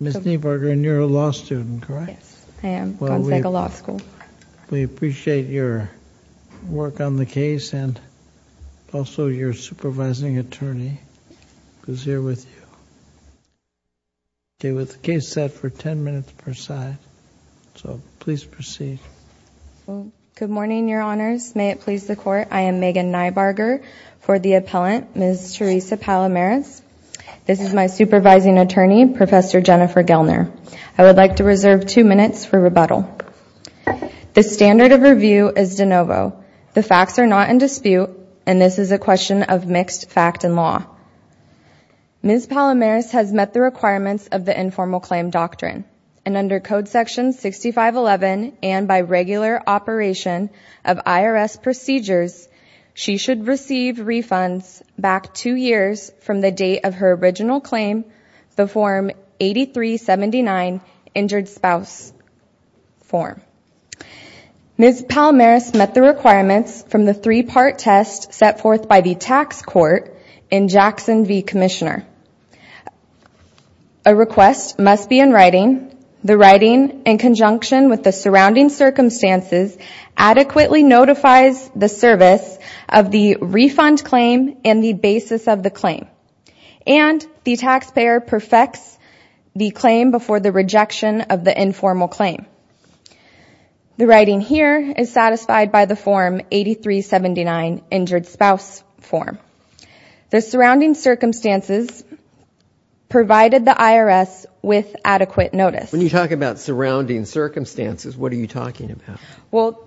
Ms. Niebarger, you're a law student, correct? Yes, I am, Gonzaga Law School. We appreciate your work on the case and also your supervising attorney who's here with you. Okay, with the case set for 10 minutes per side, so please proceed. Good morning, Your Honors. May it please the Court, I am Megan Niebarger for the appellant, Ms. Teresa Palomares. This is my supervising attorney, Professor Jennifer Gelner. I would like to reserve two minutes for rebuttal. The standard of review is de novo. The facts are not in dispute, and this is a question of mixed fact and law. Ms. Palomares has met the requirements of the informal claim doctrine, and under Code Section 6511 and by regular operation of IRS procedures, she should receive refunds back two years from the date of her original claim, the Form 8379, Injured Spouse Form. Ms. Palomares met the requirements from the three-part test set forth by the tax court in Jackson v. Commissioner. A request must be in writing. In addition, the writing, in conjunction with the surrounding circumstances, adequately notifies the service of the refund claim and the basis of the claim, and the taxpayer perfects the claim before the rejection of the informal claim. The writing here is satisfied by the Form 8379, Injured Spouse Form. The surrounding circumstances provided the IRS with adequate notice. When you talk about surrounding circumstances, what are you talking about? Well,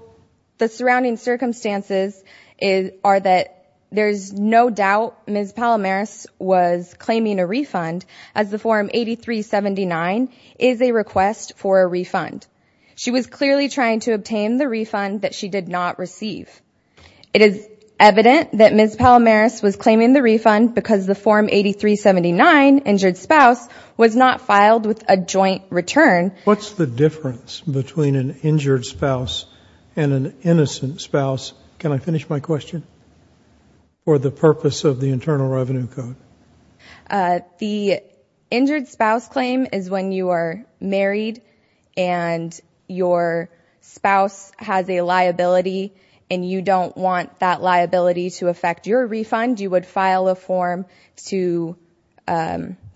the surrounding circumstances are that there's no doubt Ms. Palomares was claiming a refund, as the Form 8379 is a request for a refund. She was clearly trying to obtain the refund that she did not receive. It is evident that Ms. Palomares was claiming the refund because the Form 8379, Injured Spouse, was not filed with a joint return. What's the difference between an injured spouse and an innocent spouse? Can I finish my question? For the purpose of the Internal Revenue Code. The injured spouse claim is when you are married and your spouse has a liability, and you don't want that liability to affect your refund. You would file a form to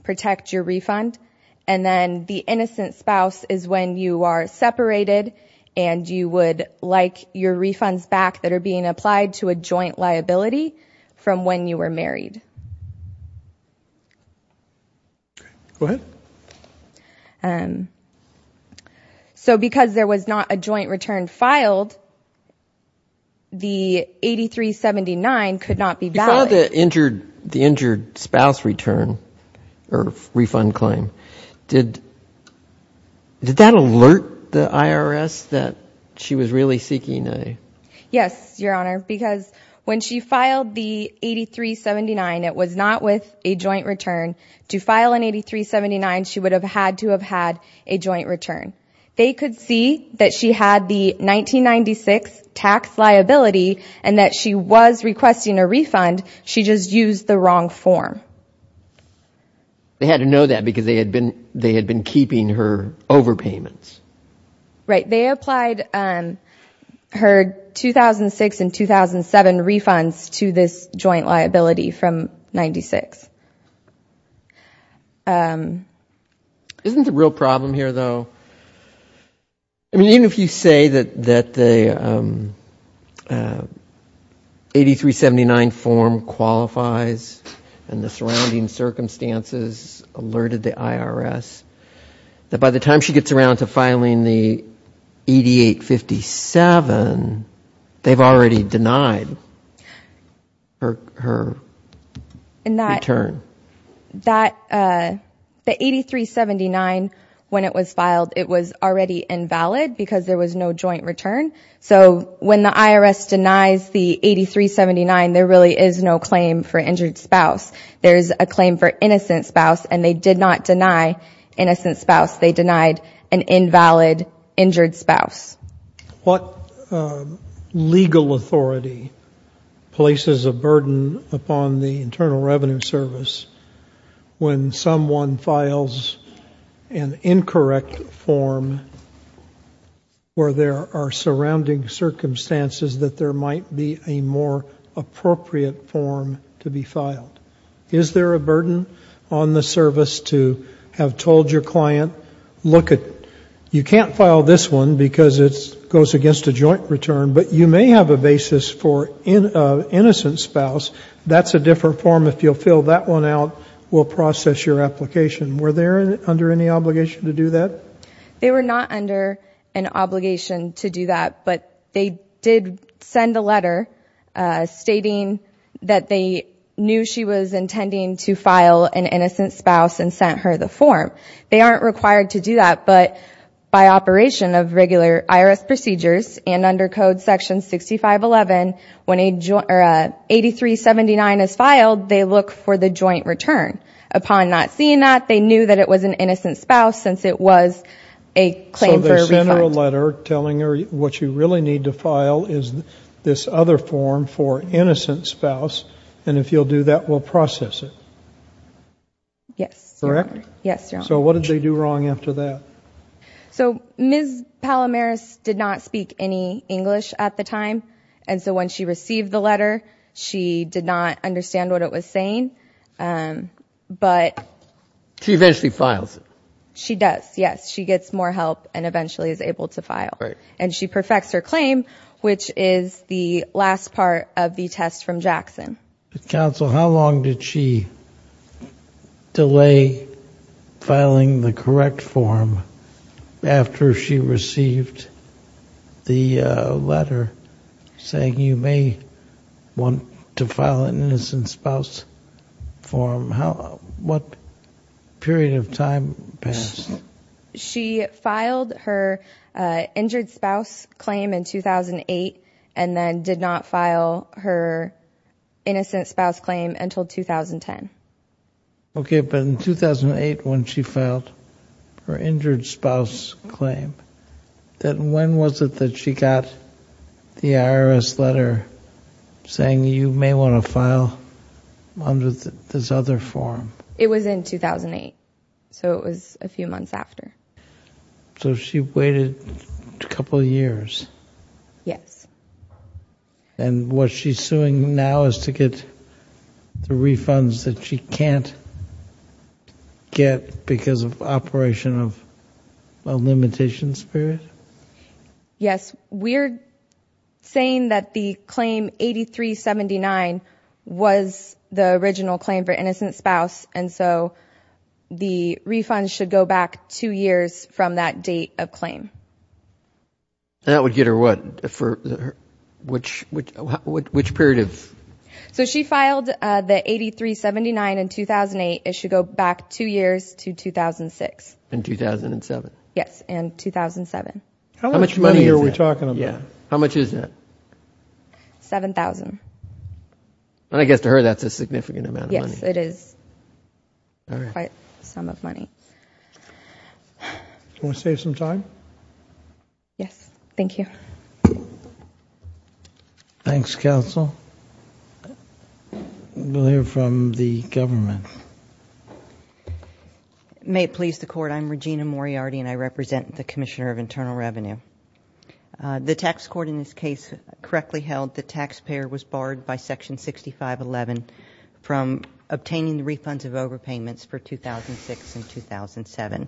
protect your refund. And then the innocent spouse is when you are separated, and you would like your refunds back that are being applied to a joint liability from when you were married. Go ahead. So because there was not a joint return filed, the 8379 could not be valid. When you saw the injured spouse return, or refund claim, did that alert the IRS that she was really seeking a? Yes, Your Honor, because when she filed the 8379, it was not with a joint return. To file an 8379, she would have had to have had a joint return. They could see that she had the 1996 tax liability, and that she was requesting a refund. She just used the wrong form. They had to know that because they had been keeping her overpayments. Right. They applied her 2006 and 2007 refunds to this joint liability from 1996. Isn't the real problem here, though? I mean, even if you say that the 8379 form qualifies, and the surrounding circumstances alerted the IRS, that by the time she gets around to filing the 8857, they've already denied her return. The 8379, when it was filed, it was already invalid because there was no joint return. So when the IRS denies the 8379, there really is no claim for injured spouse. There is a claim for innocent spouse, and they did not deny innocent spouse. They denied an invalid injured spouse. What legal authority places a burden upon the Internal Revenue Service when someone files an incorrect form where there are surrounding circumstances that there might be a more appropriate form to be filed? Is there a burden on the service to have told your client, you can't file this one because it goes against a joint return, but you may have a basis for innocent spouse. That's a different form. If you'll fill that one out, we'll process your application. Were they under any obligation to do that? They were not under an obligation to do that, but they did send a letter stating that they knew she was intending to file an innocent spouse and sent her the form. They aren't required to do that, but by operation of regular IRS procedures and under Code Section 6511, when 8379 is filed, they look for the joint return. Upon not seeing that, they knew that it was an innocent spouse since it was a claim for refund. So they sent her a letter telling her what you really need to file is this other form for innocent spouse, and if you'll do that, we'll process it. Yes. Correct? Yes, Your Honor. So what did they do wrong after that? So Ms. Palomaris did not speak any English at the time, and so when she received the letter, she did not understand what it was saying, but... She eventually files it. She does, yes. She gets more help and eventually is able to file. Right. And she perfects her claim, which is the last part of the test from Jackson. Counsel, how long did she delay filing the correct form after she received the letter saying you may want to file an innocent spouse form? What period of time passed? She filed her injured spouse claim in 2008 and then did not file her innocent spouse claim until 2010. Okay, but in 2008 when she filed her injured spouse claim, then when was it that she got the IRS letter saying you may want to file under this other form? It was in 2008, so it was a few months after. So she waited a couple of years. Yes. And what she's suing now is to get the refunds that she can't get because of operation of a limitation spirit? Yes. We're saying that the claim 8379 was the original claim for innocent spouse, and so the refunds should go back two years from that date of claim. That would get her what? Which period of... So she filed the 8379 in 2008. It should go back two years to 2006. In 2007. Yes, in 2007. How much money are we talking about? How much is that? $7,000. I guess to her that's a significant amount of money. Yes, it is quite some of money. Want to save some time? Yes, thank you. Thanks, counsel. We'll hear from the government. May it please the Court. I'm Regina Moriarty, and I represent the Commissioner of Internal Revenue. The tax court in this case correctly held the taxpayer was barred by Section 6511 from obtaining the refunds of overpayments for 2006 and 2007.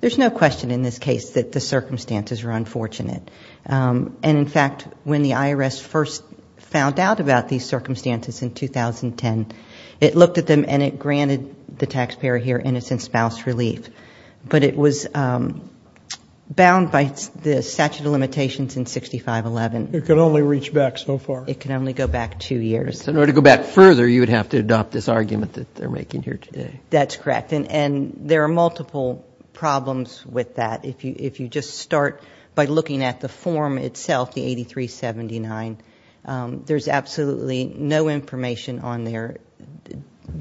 There's no question in this case that the circumstances were unfortunate. And, in fact, when the IRS first found out about these circumstances in 2010, it looked at them and it granted the taxpayer here innocent spouse relief. But it was bound by the statute of limitations in 6511. It can only reach back so far. It can only go back two years. In order to go back further, you would have to adopt this argument that they're making here today. That's correct. And there are multiple problems with that. If you just start by looking at the form itself, the 8379, there's absolutely no information on there.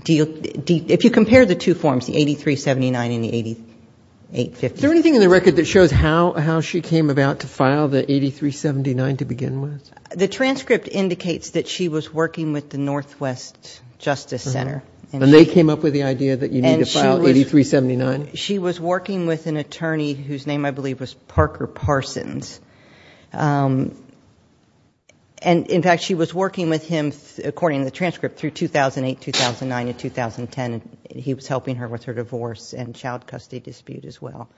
If you compare the two forms, the 8379 and the 850. Is there anything in the record that shows how she came about to file the 8379 to begin with? The transcript indicates that she was working with the Northwest Justice Center. And they came up with the idea that you need to file 8379? She was working with an attorney whose name I believe was Parker Parsons. And, in fact, she was working with him, according to the transcript, through 2008, 2009, and 2010. He was helping her with her divorce and child custody dispute as well.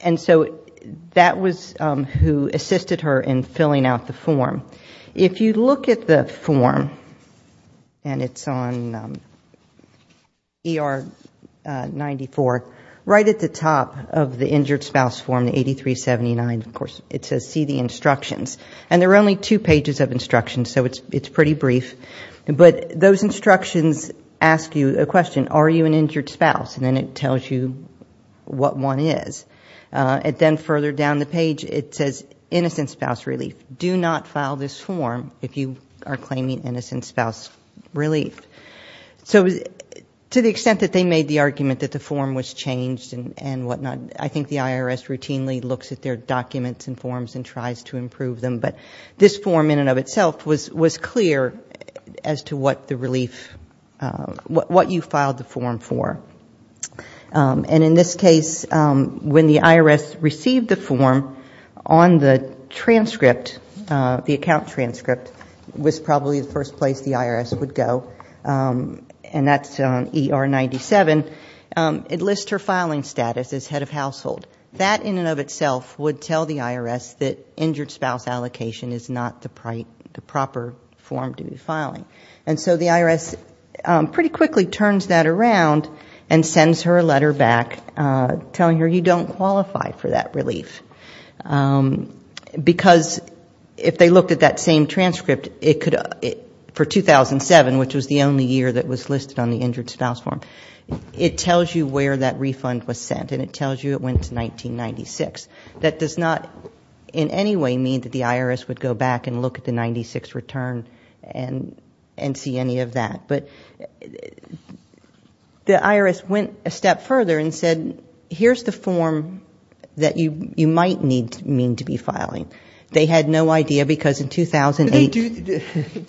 And so that was who assisted her in filling out the form. If you look at the form, and it's on ER 94, right at the top of the injured spouse form, the 8379, of course, it says, see the instructions. And there are only two pages of instructions, so it's pretty brief. But those instructions ask you a question. Are you an injured spouse? And then it tells you what one is. And then further down the page, it says, innocent spouse relief. Do not file this form if you are claiming innocent spouse relief. So to the extent that they made the argument that the form was changed and whatnot, I think the IRS routinely looks at their documents and forms and tries to improve them. But this form in and of itself was clear as to what the relief, what you filed the form for. And in this case, when the IRS received the form, on the transcript, the account transcript, was probably the first place the IRS would go, and that's on ER 97. It lists her filing status as head of household. That in and of itself would tell the IRS that injured spouse allocation is not the proper form to be filing. And so the IRS pretty quickly turns that around and sends her a letter back telling her, you don't qualify for that relief. Because if they looked at that same transcript for 2007, which was the only year that was listed on the injured spouse form, it tells you where that refund was sent, and it tells you it went to 1996. That does not in any way mean that the IRS would go back and look at the 96 return and see any of that. But the IRS went a step further and said, here's the form that you might need to mean to be filing. They had no idea because in 2008. Do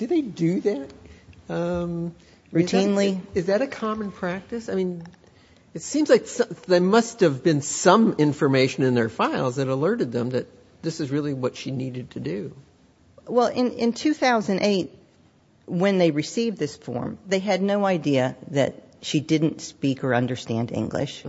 they do that? Routinely. Is that a common practice? I mean, it seems like there must have been some information in their files that alerted them that this is really what she needed to do. Well, in 2008, when they received this form, they had no idea that she didn't speak or understand English.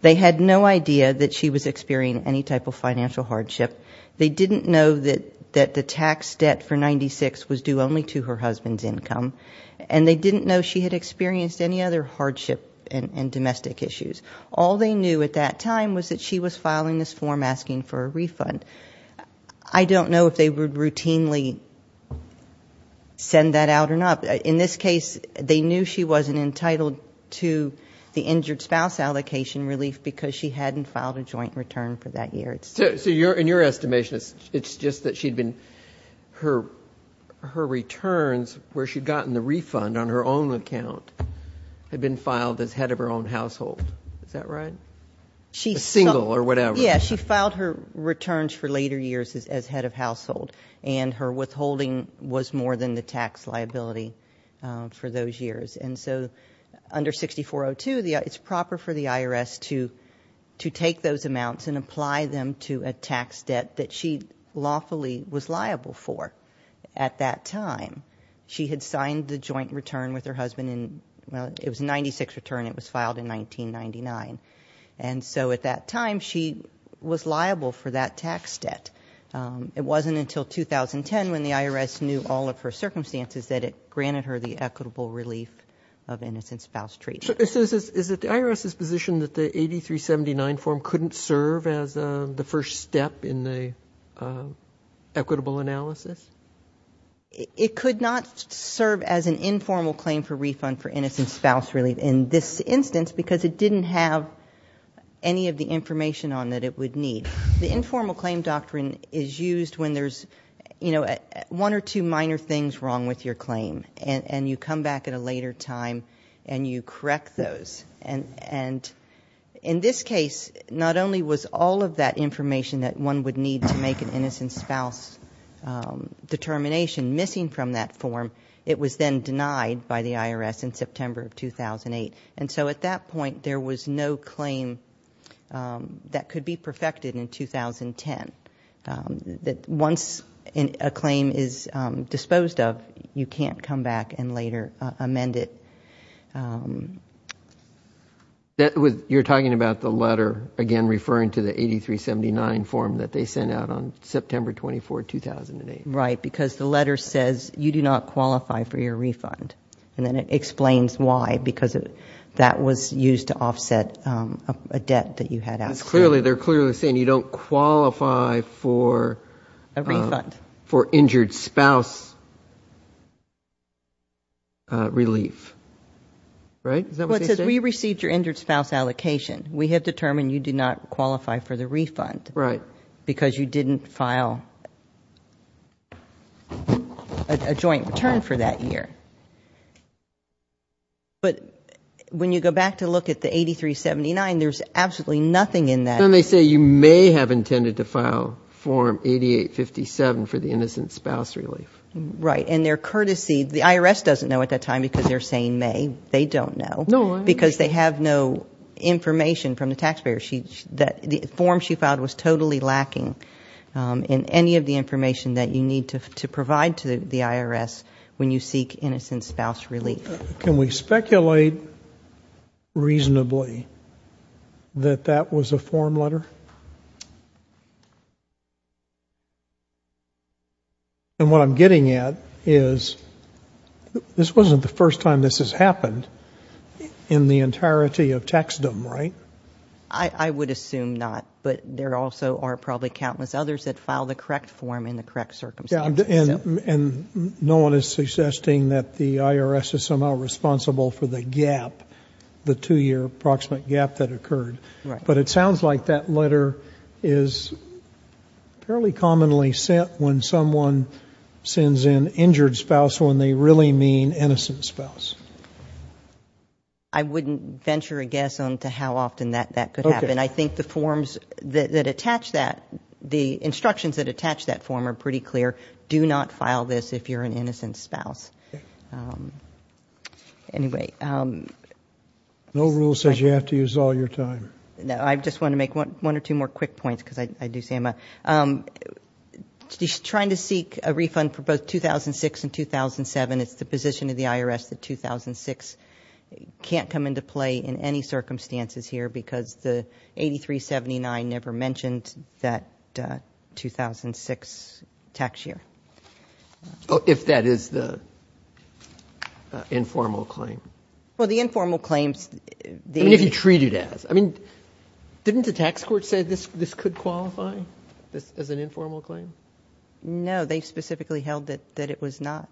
They had no idea that she was experiencing any type of financial hardship. They didn't know that the tax debt for 96 was due only to her husband's income, and they didn't know she had experienced any other hardship and domestic issues. All they knew at that time was that she was filing this form asking for a refund. I don't know if they would routinely send that out or not. In this case, they knew she wasn't entitled to the injured spouse allocation relief because she hadn't filed a joint return for that year. So in your estimation, it's just that she'd been her returns, where she'd gotten the refund on her own account, had been filed as head of her own household. Is that right? A single or whatever. Yeah, she filed her returns for later years as head of household, and her withholding was more than the tax liability for those years. And so under 6402, it's proper for the IRS to take those amounts and apply them to a tax debt that she lawfully was liable for at that time. She had signed the joint return with her husband, and it was a 96 return. It was filed in 1999. And so at that time, she was liable for that tax debt. It wasn't until 2010 when the IRS knew all of her circumstances that it granted her the equitable relief of innocent spouse treatment. So is it the IRS's position that the 8379 form couldn't serve as the first step in the equitable analysis? It could not serve as an informal claim for refund for innocent spouse relief in this instance because it didn't have any of the information on that it would need. The informal claim doctrine is used when there's, you know, one or two minor things wrong with your claim, and you come back at a later time and you correct those. And in this case, not only was all of that information that one would need to make an innocent spouse determination missing from that form, it was then denied by the IRS in September of 2008. And so at that point, there was no claim that could be perfected in 2010. Once a claim is disposed of, you can't come back and later amend it. You're talking about the letter, again, referring to the 8379 form that they sent out on September 24, 2008. Right, because the letter says, you do not qualify for your refund. And then it explains why, because that was used to offset a debt that you had outstanding. They're clearly saying you don't qualify for injured spouse relief. Right? Well, it says, we received your injured spouse allocation. We have determined you do not qualify for the refund. Right. Because you didn't file a joint return for that year. But when you go back to look at the 8379, there's absolutely nothing in that. And they say you may have intended to file Form 8857 for the innocent spouse relief. Right. And they're courtesy. The IRS doesn't know at that time because they're saying may. They don't know. No. Because they have no information from the taxpayer. The form she filed was totally lacking in any of the information that you need to provide to the IRS when you seek innocent spouse relief. Can we speculate reasonably that that was a form letter? And what I'm getting at is this wasn't the first time this has happened in the entirety of taxdom, right? I would assume not. But there also are probably countless others that filed the correct form in the correct circumstances. And no one is suggesting that the IRS is somehow responsible for the gap, the two-year approximate gap that occurred. Right. But it sounds like that letter is fairly commonly sent when someone sends in injured spouse when they really mean innocent spouse. I wouldn't venture a guess on to how often that could happen. I think the forms that attach that, the instructions that attach that form are pretty clear. Do not file this if you're an innocent spouse. Anyway. No rule says you have to use all your time. No. I just want to make one or two more quick points because I do see them. He's trying to seek a refund for both 2006 and 2007. It's the position of the IRS that 2006 can't come into play in any circumstances here because the 8379 never mentioned that 2006 tax year. If that is the informal claim. Well, the informal claims. If you treat it as. I mean, didn't the tax court say this could qualify as an informal claim? No, they specifically held that it was not.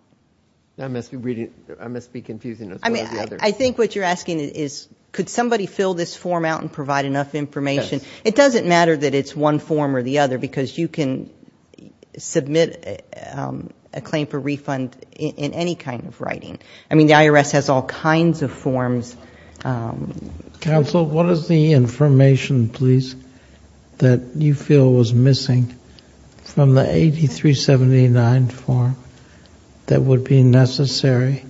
I must be reading. I must be confusing. I mean, I think what you're asking is could somebody fill this form out and provide enough information? It doesn't matter that it's one form or the other because you can submit a claim for refund in any kind of writing. I mean, the IRS has all kinds of forms. Counsel, what is the information, please, that you feel was missing from the 8379 form that would be necessary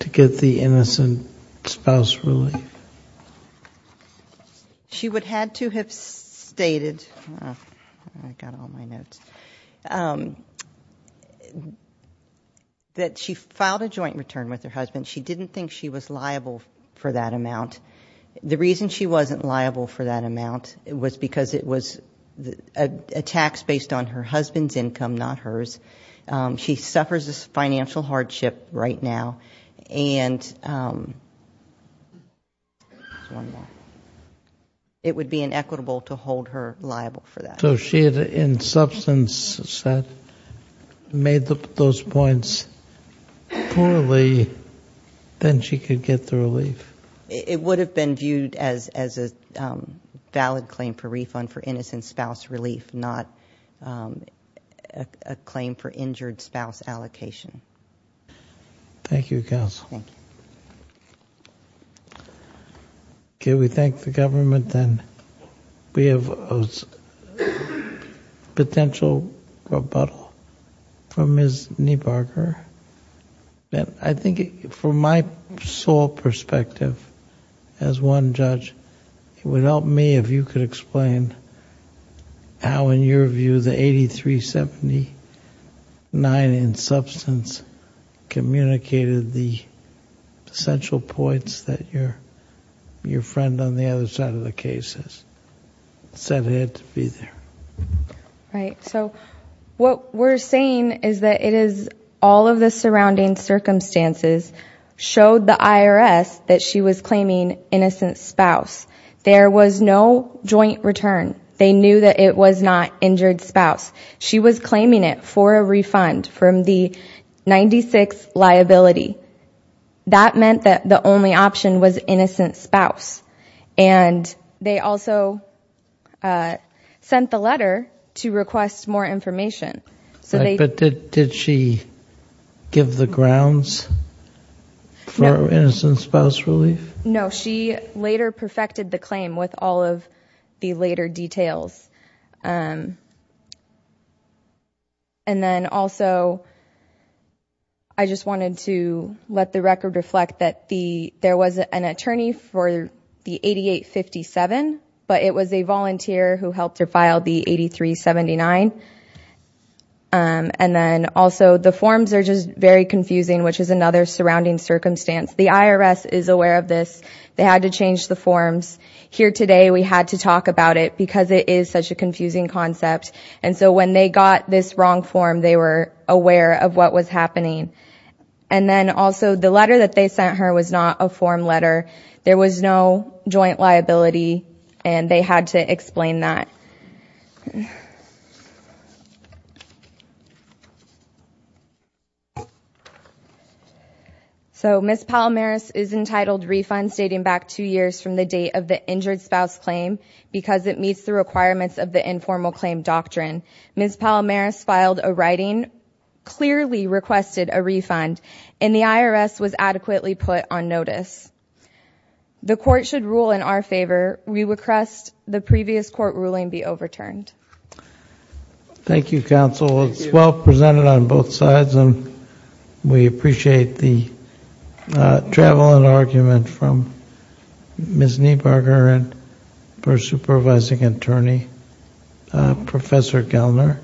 to get the innocent spouse relief? She would had to have stated. I got all my notes. That she filed a joint return with her husband. She didn't think she was liable for that amount. The reason she wasn't liable for that amount was because it was a tax based on her husband's income, not hers. She suffers a financial hardship right now. And it would be inequitable to hold her liable for that. So she had, in substance, said, made those points poorly, then she could get the relief. It would have been viewed as a valid claim for refund for innocent spouse relief, not a claim for injured spouse allocation. Thank you, Counsel. Thank you. Can we thank the government then? We have a potential rebuttal from Ms. Niebarger. I think, from my sole perspective, as one judge, it would help me if you could explain how, in your view, the 8379, in substance, communicated the central points that your friend on the other side of the case has said had to be there. Right. So what we're saying is that it is all of the surrounding circumstances showed the IRS that she was claiming innocent spouse. There was no joint return. They knew that it was not injured spouse. She was claiming it for a refund from the 96 liability. That meant that the only option was innocent spouse. And they also sent the letter to request more information. But did she give the grounds for innocent spouse relief? No, she later perfected the claim with all of the later details. And then, also, I just wanted to let the record reflect that there was an attorney for the 8857, but it was a volunteer who helped her file the 8379. And then, also, the forms are just very confusing, which is another surrounding circumstance. The IRS is aware of this. They had to change the forms. Here today, we had to talk about it because it is such a confusing concept. And so when they got this wrong form, they were aware of what was happening. And then, also, the letter that they sent her was not a form letter. There was no joint liability, and they had to explain that. Okay. So Ms. Palomaris is entitled refund stating back two years from the date of the injured spouse claim because it meets the requirements of the informal claim doctrine. Ms. Palomaris filed a writing, clearly requested a refund, and the IRS was adequately put on notice. The court should rule in our favor. We request the previous court ruling be overturned. Thank you, counsel. It was well presented on both sides, and we appreciate the travel and argument from Ms. Niebarger and her supervising attorney, Professor Gelner,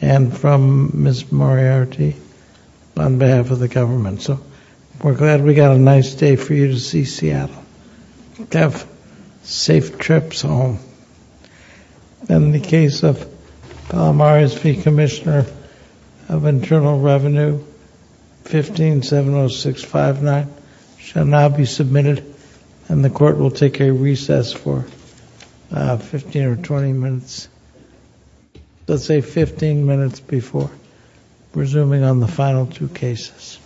and from Ms. Moriarty on behalf of the government. So we're glad we got a nice day for you to see Seattle. Have safe trips home. In the case of Palomaris v. Commissioner of Internal Revenue, 1570659 shall now be submitted, and the court will take a recess for 15 or 20 minutes, let's say 15 minutes before resuming on the final two cases.